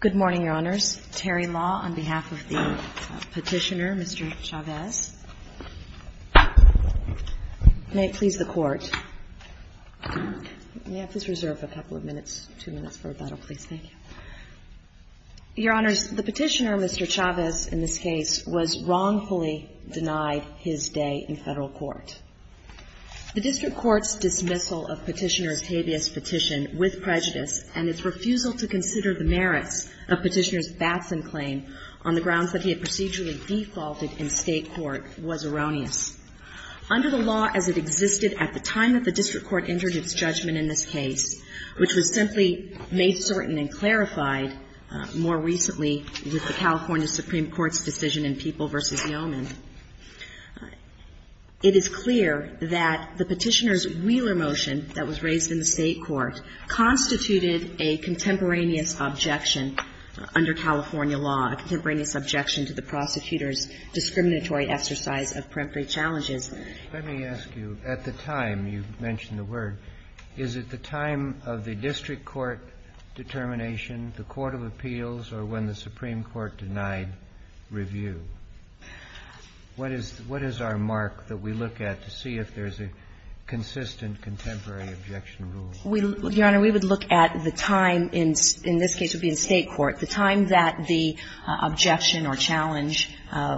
Good morning, Your Honors. Terry Law on behalf of the Petitioner, Mr. Chavez. May it please the Court. May I please reserve a couple of minutes, two minutes for rebuttal, please? Thank you. Your Honors, the Petitioner, Mr. Chavez, in this case, was wrongfully denied his day in federal court. The District Court's dismissal of Petitioner Octavius' petition with prejudice and its refusal to consider the merits of Petitioner's Batson claim on the grounds that he had procedurally defaulted in state court was erroneous. Under the law as it existed at the time that the District Court entered its judgment in this case, which was simply made certain and clarified more recently with the California Supreme Court's decision in People v. Yeoman, it is clear that the Petitioner's Wheeler motion that was raised in the state court constituted a contemporaneous objection under California law, a contemporaneous objection to the prosecutor's discriminatory exercise of peremptory challenges. Let me ask you, at the time you mentioned the word, is it the time of the District Court determination, the court of appeals, or when the Supreme Court denied review? What is our mark that we look at to see if there's a consistent contemporary objection rule? We, Your Honor, we would look at the time in this case would be in state court, the time that the objection or challenge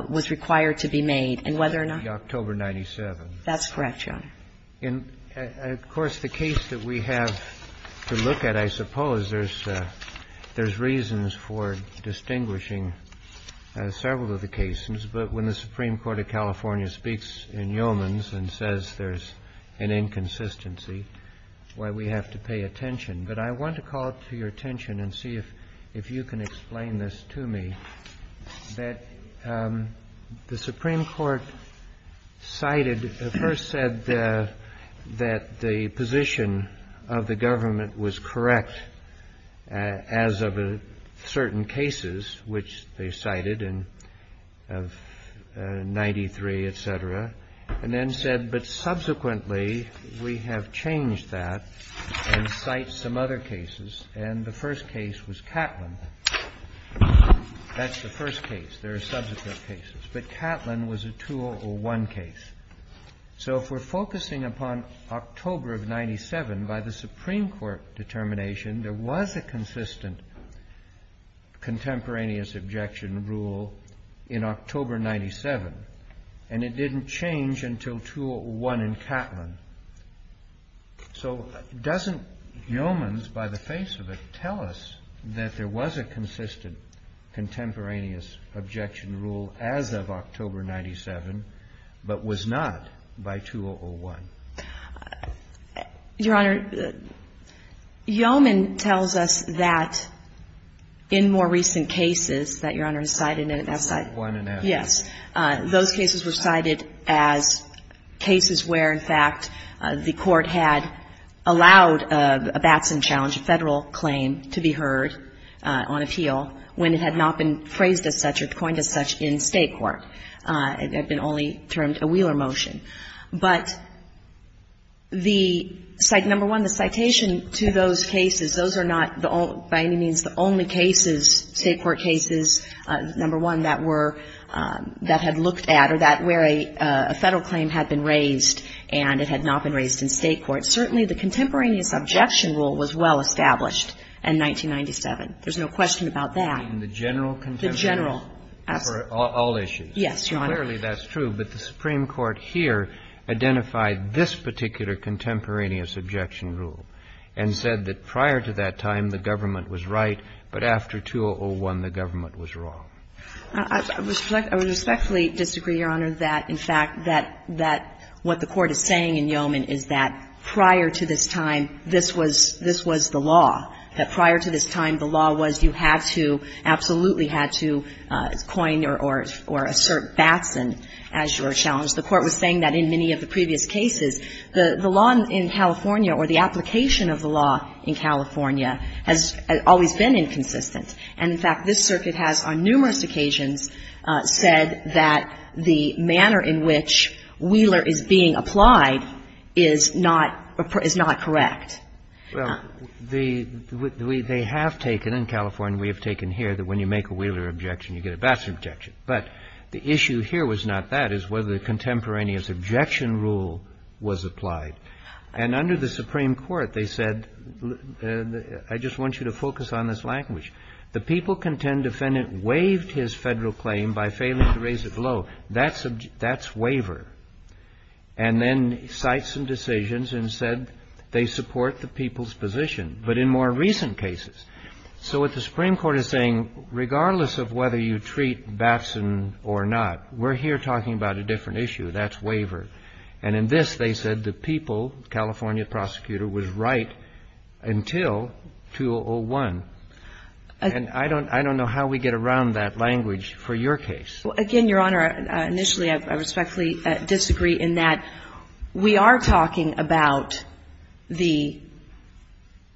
was required to be made, and whether or not the October 97. That's correct, Your Honor. And, of course, the case that we have to look at, I suppose there's reasons for distinguishing several of the cases, but when the Supreme Court of California speaks in Yeoman's case and says there's an inconsistency, why we have to pay attention. But I want to call to your attention and see if you can explain this to me, that the Supreme Court cited, first said that the position of the government was correct as of certain cases, which they cited in 93, et cetera, and then said, but subsequently we have changed that and cite some other cases. And the first case was Catlin. That's the first case. There are subsequent cases. But Catlin was a 201 case. So if we're focusing upon October of 97, by the Supreme Court determination, there was a consistent contemporaneous objection rule in October 97, and it didn't change until 201 in Catlin. So doesn't Yeoman's, by the face of it, tell us that there was a consistent contemporaneous objection rule as of October 97, but was not by 201? Your Honor, Yeoman tells us that in more recent cases that Your Honor has cited in that site, yes, those cases were cited as cases where, in fact, the Court had allowed a Batson challenge, a Federal claim to be heard on appeal when it had not been phrased as such or coined as such in State court. It had been only termed a Wheeler motion. But the number one, the citation to those cases, those are not by any means the only cases, State court cases, number one, that were that had looked at or that where a Federal claim had been raised and it had not been raised in State court. Certainly the contemporaneous objection rule was well established in 1997. There's no question about that. And the general contemporaneous? The general. For all issues? Yes, Your Honor. Clearly that's true. But the Supreme Court here identified this particular contemporaneous objection rule and said that prior to that time the government was right, but after 2001 the government was wrong. I respectfully disagree, Your Honor, that in fact that what the Court is saying in Yeoman is that prior to this time this was the law, that prior to this time the The Court was saying that in many of the previous cases the law in California or the application of the law in California has always been inconsistent. And in fact, this circuit has on numerous occasions said that the manner in which Wheeler is being applied is not correct. Well, they have taken, in California we have taken here, that when you make a Wheeler objection, you get a Baxter objection. But the issue here was not that. It was whether the contemporaneous objection rule was applied. And under the Supreme Court they said, I just want you to focus on this language. The people contend defendant waived his Federal claim by failing to raise it below. That's waiver. And then cites some decisions and said they support the people's position. But in more recent cases. So what the Supreme Court is saying, regardless of whether you treat Batson or not, we're here talking about a different issue. That's waiver. And in this they said the people, California prosecutor, was right until 2001. And I don't know how we get around that language for your case. Well, again, Your Honor, initially I respectfully disagree in that we are talking about the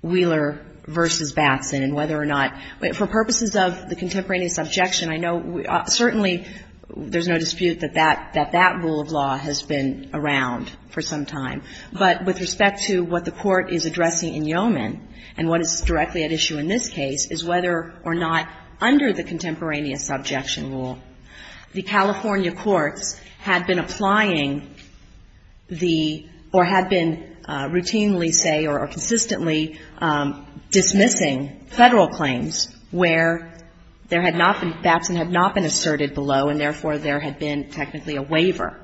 Wheeler v. Batson and whether or not, for purposes of the contemporaneous objection, I know certainly there's no dispute that that rule of law has been around for some time. But with respect to what the Court is addressing in Yeoman, and what is directly at issue in this case, is whether or not under the contemporaneous objection rule, the California courts had been applying the, or had been routinely say or consistently dismissing Federal claims where there had not been, Batson had not been asserted below, and therefore there had been technically a waiver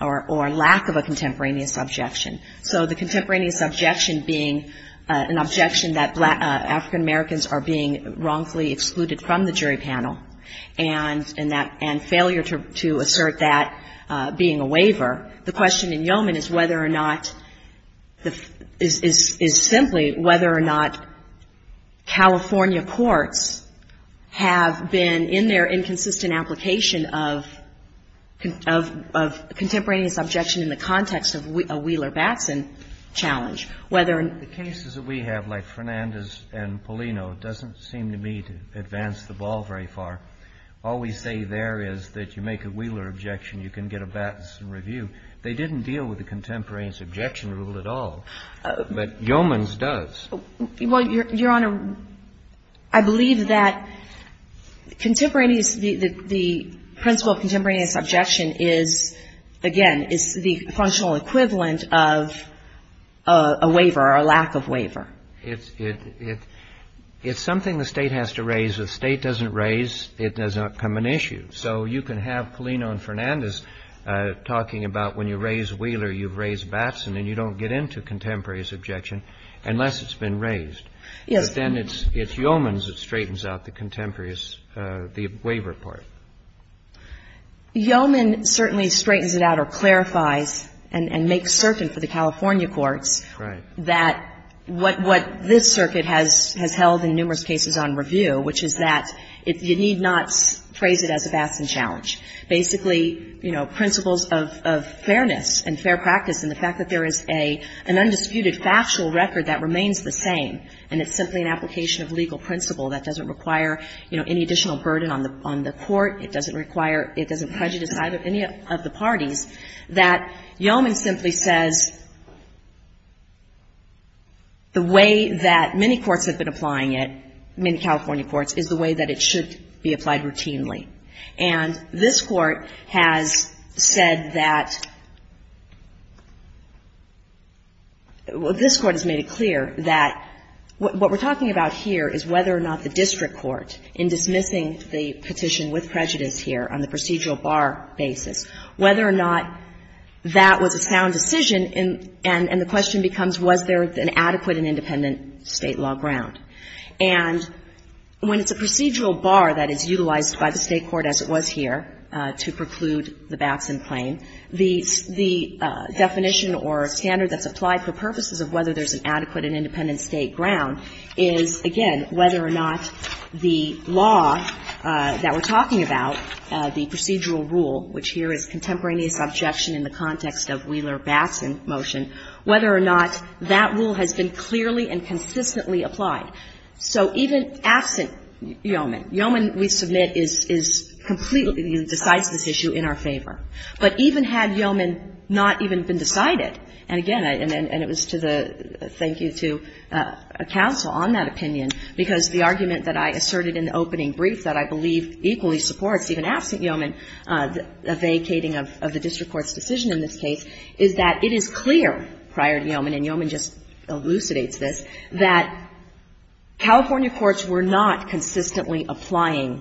or lack of a contemporaneous objection. So the contemporaneous objection being an objection that African-Americans are being wrongfully excluded from the jury panel, and that, and failure to assert that being a waiver. The question in Yeoman is whether or not, is simply whether or not California courts have been in their inconsistent application of contemporaneous objection in the context of a Wheeler-Batson challenge, whether or not. The reason I'm asking is because the rule of Fernandez and Polino doesn't seem to me to advance the ball very far. All we say there is that you make a Wheeler objection you can get a Batson review. They didn't deal with the contemporaneous objection rule at all. But Yeoman's does. Well, Your Honor, I believe that contemporaneous, the principle of contemporaneous objection is, again, is the functional equivalent of a waiver or a lack of waiver. It's something the State has to raise. If the State doesn't raise, it does not become an issue. So you can have Polino and Fernandez talking about when you raise Wheeler you've raised Batson and you don't get into contemporaneous objection unless it's been raised. Yes. But then it's Yeoman's that straightens out the contemporaneous, the waiver part. Yeoman certainly straightens it out or clarifies and makes certain for the California courts that what this circuit has held in numerous cases on review, which is that you need not phrase it as a Batson challenge. Basically, you know, principles of fairness and fair practice and the fact that there is an undisputed factual record that remains the same and it's simply an application of legal principle that doesn't require, you know, any additional burden on the court, it doesn't require, it doesn't prejudice any of the parties, that Yeoman simply says the way that many courts have been applying it, many California courts, is the way that it should be applied routinely. And this Court has said that, well, this Court has made it clear that what we're talking about here is whether or not the district court in dismissing the petition with prejudice here on the procedural bar basis, whether or not that was a sound decision, and the question becomes was there an adequate and independent State law ground. And when it's a procedural bar that is utilized by the State court as it was here to preclude the Batson claim, the definition or standard that's applied for purposes of whether there's an adequate and independent State ground is, again, whether or not the law that we're talking about, the procedural rule, which here is contemporaneous objection in the context of Wheeler-Batson motion, whether or not that rule has been clearly and consistently applied. So even absent Yeoman, Yeoman, we submit, is completely, decides this issue in our favor. But even had Yeoman not even been decided, and again, and it was to the, thank you to counsel on that opinion, because the argument that I asserted in the opening brief that I believe equally supports, even absent Yeoman, the vacating of the district court's decision in this case, is that it is clear prior to Yeoman, and Yeoman just elucidates this, that California courts were not consistently applying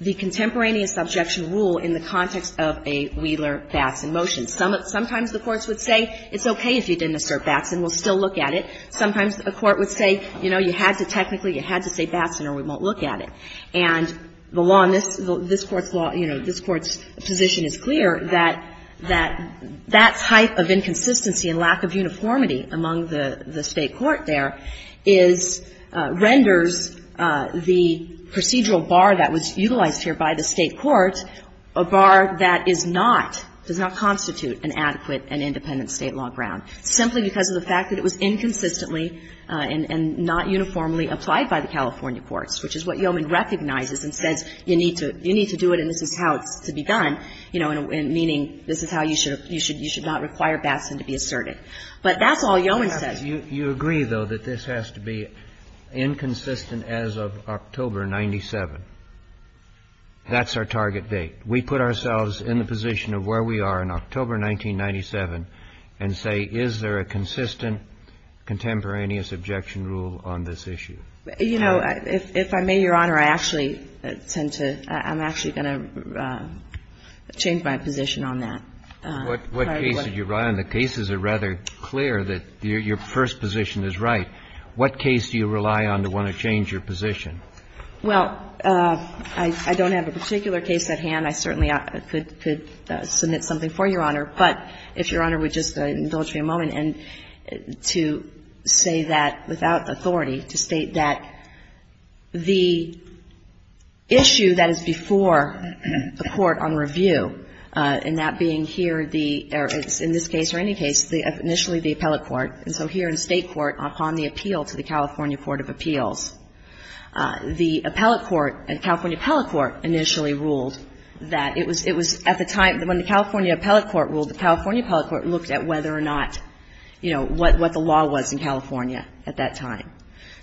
the contemporaneous objection rule in the context of a Wheeler-Batson motion. Sometimes the courts would say, it's okay if you didn't assert Batson. We'll still look at it. Sometimes a court would say, you know, you had to technically, you had to say Batson or we won't look at it. And the law in this, this Court's law, you know, this Court's position is clear that that type of inconsistency and lack of uniformity among the State court there is, renders the procedural bar that was utilized here by the State court a bar that is not, does not constitute an adequate and independent State law ground, simply because of the fact that it was inconsistently and not uniformly applied by the California courts, which is what Yeoman recognizes and says you need to, you need to do it and this is how it's to be done, you know, meaning this is how you should, you should not require Batson to be asserted. But that's all Yeoman says. You agree, though, that this has to be inconsistent as of October 97? That's our target date. We put ourselves in the position of where we are in October 1997 and say, is there a consistent contemporaneous objection rule on this issue? You know, if I may, Your Honor, I actually tend to, I'm actually going to change my position on that. What case did you rely on? The cases are rather clear that your first position is right. What case do you rely on to want to change your position? Well, I don't have a particular case at hand. I certainly could submit something for Your Honor. But if Your Honor would just indulge me a moment to say that without authority, to state that the issue that is before the Court on review, and that being here, in this case or any case, initially the appellate court, and so here in State Court upon the appeal to the California Court of Appeals, the appellate court and California appellate court initially ruled that it was, it was at the time when the California appellate court ruled, the California appellate court looked at whether or not, you know, what the law was in California at that time.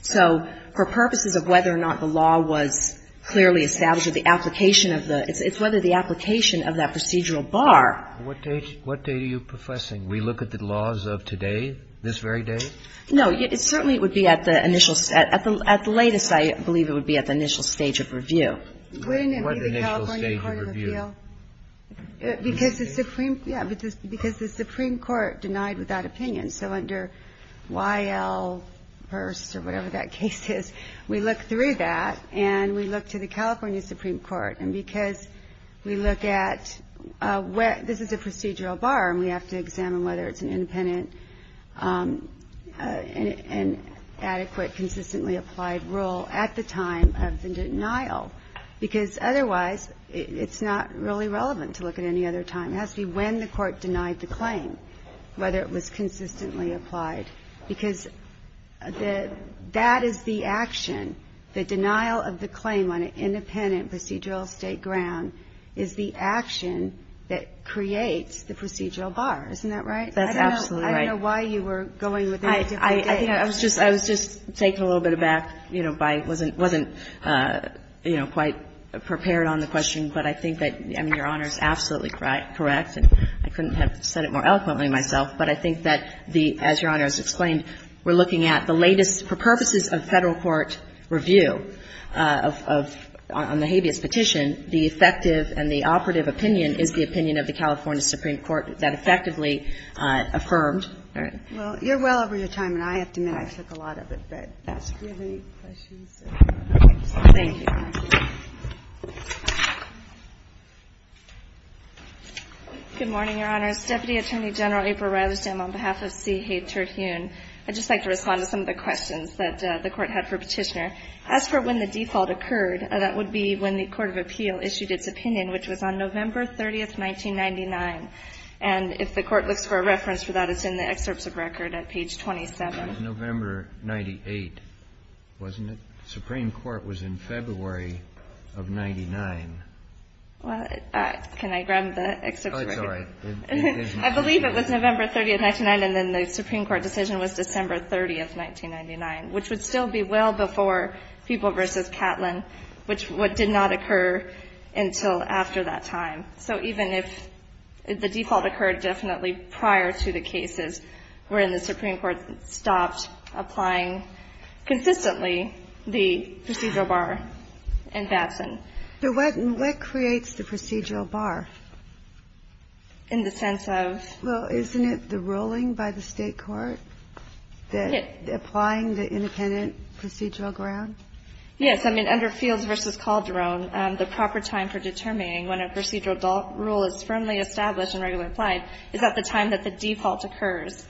So for purposes of whether or not the law was clearly established or the application of the, it's whether the application of that procedural bar. What date, what date are you professing? We look at the laws of today, this very day? No, it certainly would be at the initial, at the latest I believe it would be at the What initial stage of review? Wouldn't it be the California Court of Appeals? Because the Supreme, yeah, because the Supreme Court denied without opinion. So under Y.L. Hearst or whatever that case is, we look through that and we look to the because we look at where, this is a procedural bar and we have to examine whether it's an independent and adequate consistently applied rule at the time of the denial. Because otherwise it's not really relevant to look at any other time. It has to be when the court denied the claim, whether it was consistently applied, because the, that is the action, the denial of the claim on an independent procedural State ground is the action that creates the procedural bar. Isn't that right? That's absolutely right. I don't know why you were going with a different date. I think I was just, I was just taken a little bit aback, you know, by, wasn't, wasn't, you know, quite prepared on the question. But I think that, I mean, Your Honor is absolutely correct. And I couldn't have said it more eloquently myself. But I think that the, as Your Honor has explained, we're looking at the latest, for purposes of Federal court review of, on the habeas petition, the effective and the operative opinion is the opinion of the California Supreme Court that effectively affirmed. All right. Well, you're well over your time, and I have to admit I took a lot of it. But do you have any questions? Thank you. Good morning, Your Honors. Deputy Attorney General April Rutherford, on behalf of C. H. Terhune. I'd just like to respond to some of the questions that the Court had for Petitioner. As for when the default occurred, that would be when the Court of Appeal issued its opinion, which was on November 30th, 1999. And if the Court looks for a reference for that, it's in the excerpts of record at page 27. It was November 98, wasn't it? The Supreme Court was in February of 99. Well, can I grab the excerpts of record? Oh, it's all right. I believe it was November 30th, 1999. And then the Supreme Court decision was December 30th, 1999, which would still be well before People v. Catlin, which did not occur until after that time. So even if the default occurred definitely prior to the cases wherein the Supreme Court stopped applying consistently the procedural bar in Batson. So what creates the procedural bar? In the sense of? Well, isn't it the ruling by the State court that applying the independent procedural ground? Yes. I mean, under Fields v. Calderon, the proper time for determining when a procedural rule is firmly established and regularly applied is at the time that the default occurs.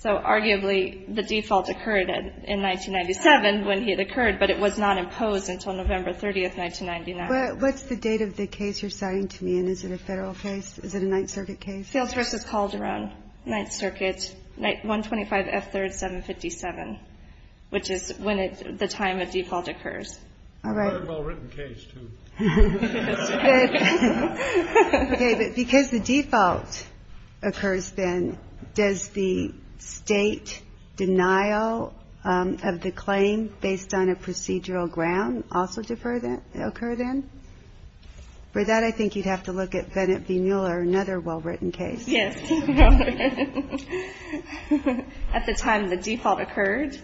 So arguably the default occurred in 1997 when it occurred, but it was not imposed until November 30th, 1999. What's the date of the case you're citing to me? And is it a Federal case? Is it a Ninth Circuit case? Fields v. Calderon. Ninth Circuit. 125 F. 3rd, 757, which is when the time of default occurs. All right. Another well-written case, too. Okay, but because the default occurs then, does the State denial of the claim based on a procedural ground also occur then? For that, I think you'd have to look at Bennett v. Mueller, another well-written case. Yes. At the time the default occurred?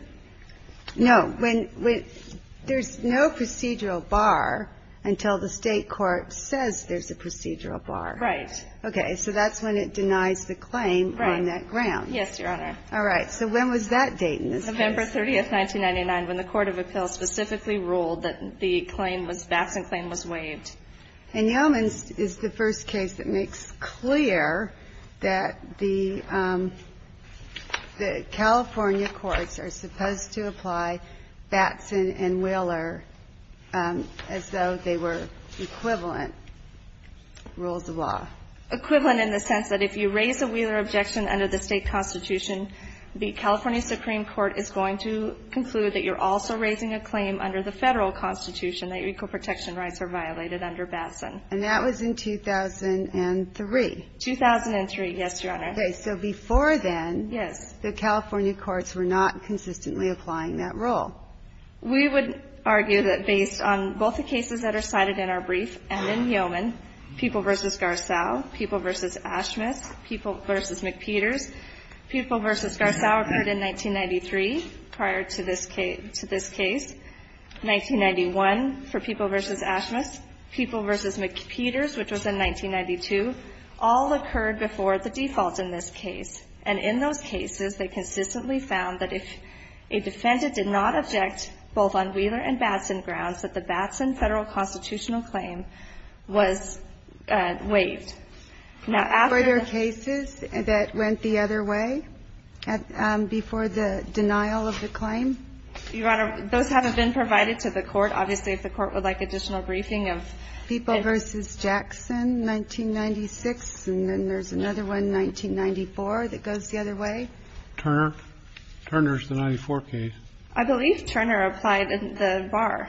No. There's no procedural bar until the State court says there's a procedural bar. Right. Okay. So that's when it denies the claim on that ground. Right. Yes, Your Honor. All right. So when was that date in this case? November 30th, 1999, when the Court of Appeals specifically ruled that the claim was, Batson claim was waived. And Yeomans is the first case that makes clear that the California courts are supposed to apply Batson and Mueller as though they were equivalent rules of law. Equivalent in the sense that if you raise a Wheeler objection under the State Constitution, the California Supreme Court is going to conclude that you're also raising a claim under the Federal Constitution that equal protection rights are violated under Batson. And that was in 2003? 2003, yes, Your Honor. Okay. So before then, the California courts were not consistently applying that rule. We would argue that based on both the cases that are cited in our brief and in Yeoman, People v. Garceau, People v. Ashmitz, People v. McPeters. People v. Garceau occurred in 1993, prior to this case. 1991 for People v. Ashmitz. People v. McPeters, which was in 1992, all occurred before the default in this case. And in those cases, they consistently found that if a defendant did not object both on Wheeler and Batson grounds, that the Batson Federal constitutional claim was waived. Now, after the ---- Were there cases that went the other way before the denial of the claim? Your Honor, those haven't been provided to the Court. Obviously, if the Court would like additional briefing of ---- People v. Jackson, 1996, and then there's another one, 1994, that goes the other Turner. Turner's the 94 case. I believe Turner applied the bar.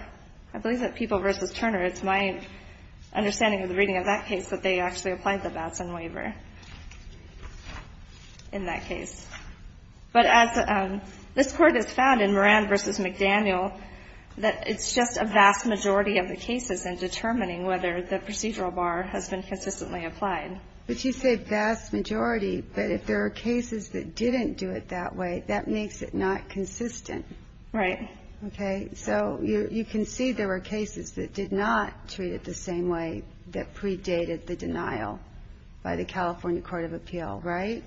I believe that People v. Turner, it's my understanding of the reading of that case, that they actually applied the Batson waiver in that case. But as this Court has found in Moran v. McDaniel, that it's just a vast majority of the cases in determining whether the procedural bar has been consistently applied. But you say vast majority, but if there are cases that didn't do it that way, that makes it not consistent. Right. Okay? So you can see there were cases that did not treat it the same way that predated the denial by the California Court of Appeal, right?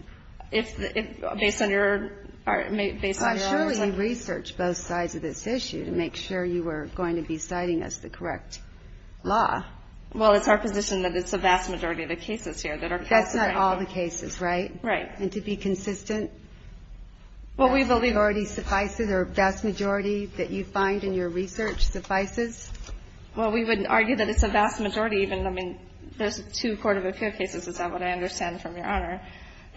Based on your ---- Surely you researched both sides of this issue to make sure you were going to be citing us the correct law. Well, it's our position that it's a vast majority of the cases here that are ---- That's not all the cases, right? Right. And to be consistent? Well, we believe already suffices, or a vast majority that you find in your research suffices. Well, we wouldn't argue that it's a vast majority even. I mean, there's two Court of Appeal cases, is that what I understand from Your Honor,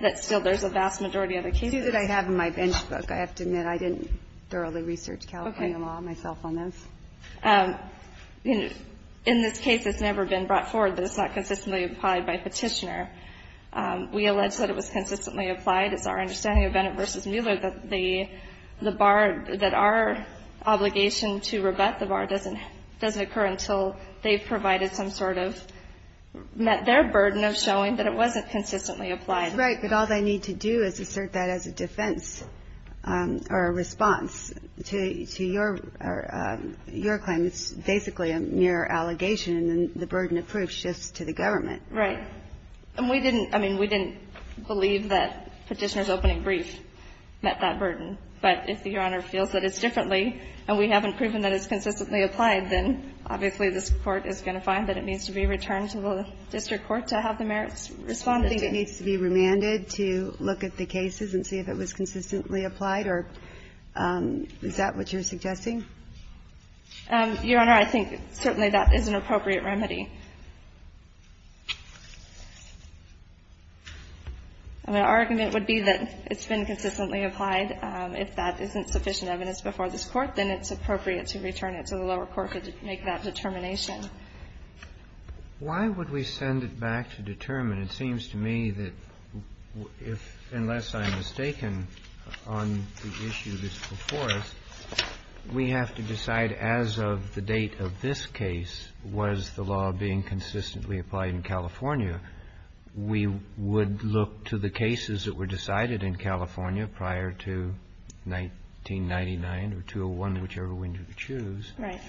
that still there's a vast majority of the cases. Two that I have in my bench book. I have to admit, I didn't thoroughly research California law myself on those. Okay. In this case, it's never been brought forward that it's not consistently applied by Petitioner. We allege that it was consistently applied. It's our understanding of Bennett v. Mueller that the bar, that our obligation to rebut the bar doesn't occur until they've provided some sort of their burden of showing that it wasn't consistently applied. Right. But all they need to do is assert that as a defense or a response to your claim. It's basically a mere allegation, and the burden of proof shifts to the government. Right. And we didn't, I mean, we didn't believe that Petitioner's opening brief met that burden, but if Your Honor feels that it's differently and we haven't proven that it's consistently applied, then obviously this Court is going to find that it needs to be returned to the district court to have the merits responded to. Do you think it needs to be remanded to look at the cases and see if it was consistently applied, or is that what you're suggesting? Your Honor, I think certainly that is an appropriate remedy. My argument would be that it's been consistently applied. If that isn't sufficient evidence before this Court, then it's appropriate to return it to the lower court to make that determination. Why would we send it back to determine? It seems to me that if, unless I'm mistaken on the issue that's before us, we have to decide as of the date of this case was the law being consistently applied in California, we would look to the cases that were decided in California prior to 1999 or 201, whichever one you choose. Right.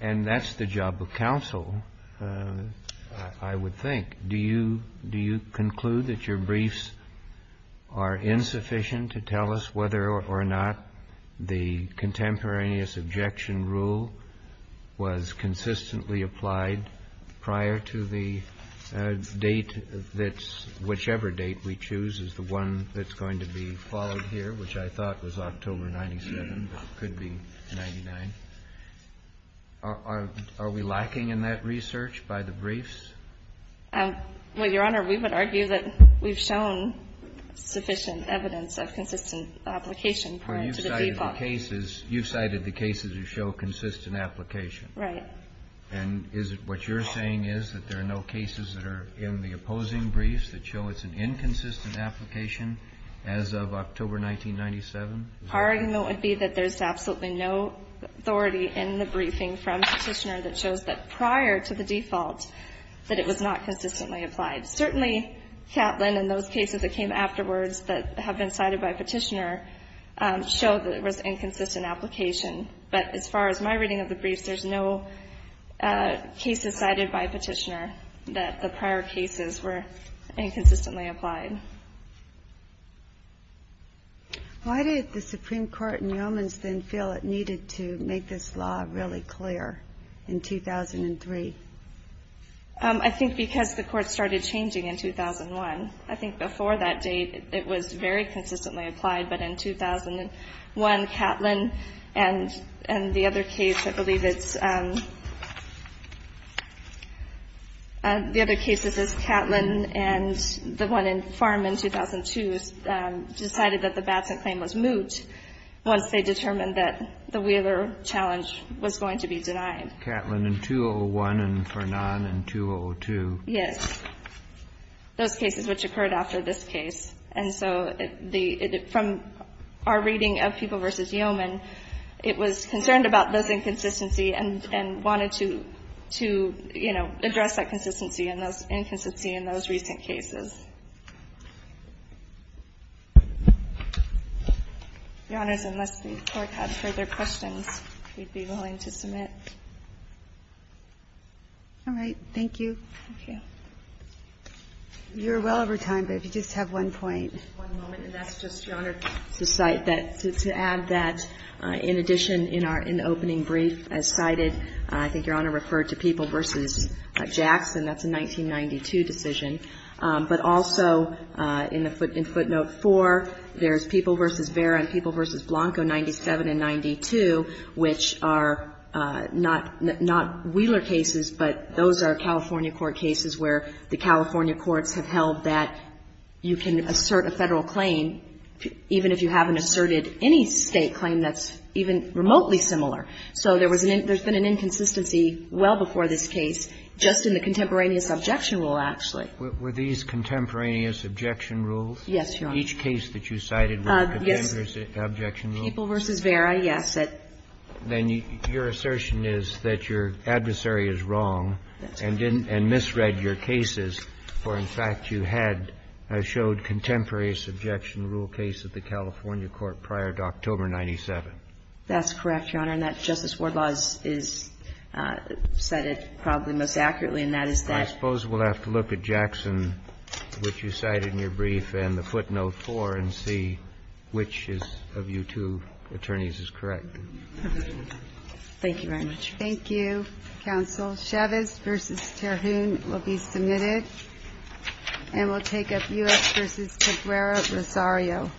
And that's the job of counsel, I would think. Do you conclude that your briefs are insufficient to tell us whether or not the contemporary rule was consistently applied prior to the date that's whichever date we choose is the one that's going to be followed here, which I thought was October 97, but could be 99? Are we lacking in that research by the briefs? Well, Your Honor, we would argue that we've shown sufficient evidence of consistent application prior to the default. But in the cases, you've cited the cases that show consistent application. Right. And is it what you're saying is that there are no cases that are in the opposing briefs that show it's an inconsistent application as of October 1997? Our argument would be that there's absolutely no authority in the briefing from Petitioner that shows that prior to the default that it was not consistently applied. Certainly, Catlin and those cases that came afterwards that have been cited by Petitioner show that it was inconsistent application. But as far as my reading of the briefs, there's no cases cited by Petitioner that the prior cases were inconsistently applied. Why did the Supreme Court in Yeomans then feel it needed to make this law really clear in 2003? I think because the Court started changing in 2001. I think before that date, it was very consistently applied. But in 2001, Catlin and the other case, I believe it's the other cases is Catlin and the one in Farm in 2002 decided that the Batson claim was moot once they determined that the Wheeler challenge was going to be denied. Catlin in 2001 and Farnan in 2002. Yes. Those cases which occurred after this case. And so from our reading of People v. Yeoman, it was concerned about those inconsistency and wanted to, you know, address that consistency and those inconsistency in those recent cases. Your Honors, unless the Court has further questions, we'd be willing to submit. All right. Thank you. Thank you. You're well over time, but if you just have one point. One moment. And that's just, Your Honor, to cite that, to add that in addition in our opening brief as cited, I think Your Honor referred to People v. Jackson. That's a 1992 decision. But also in footnote 4, there's People v. Vera and People v. Blanco, 97 and 92, which are not Wheeler cases, but those are California court cases where the California courts have held that you can assert a Federal claim even if you haven't asserted any State claim that's even remotely similar. So there's been an inconsistency well before this case, just in the contemporaneous objection rule, actually. Were these contemporaneous objection rules? Yes, Your Honor. Each case that you cited were contemporaneous objection rules? Yes. People v. Vera, yes. Then your assertion is that your adversary is wrong and misread your cases, for in fact, you had showed contemporaneous objection rule case at the California court prior to October 97. That's correct, Your Honor. And that Justice Wardlaw has said it probably most accurately, and that is that. I suppose we'll have to look at Jackson, which you cited in your brief, and the footnote before and see which of you two attorneys is correct. Thank you very much. Thank you, counsel. Chavez v. Terhune will be submitted and will take up U.S. v. Cabrera-Rosario. Thank you.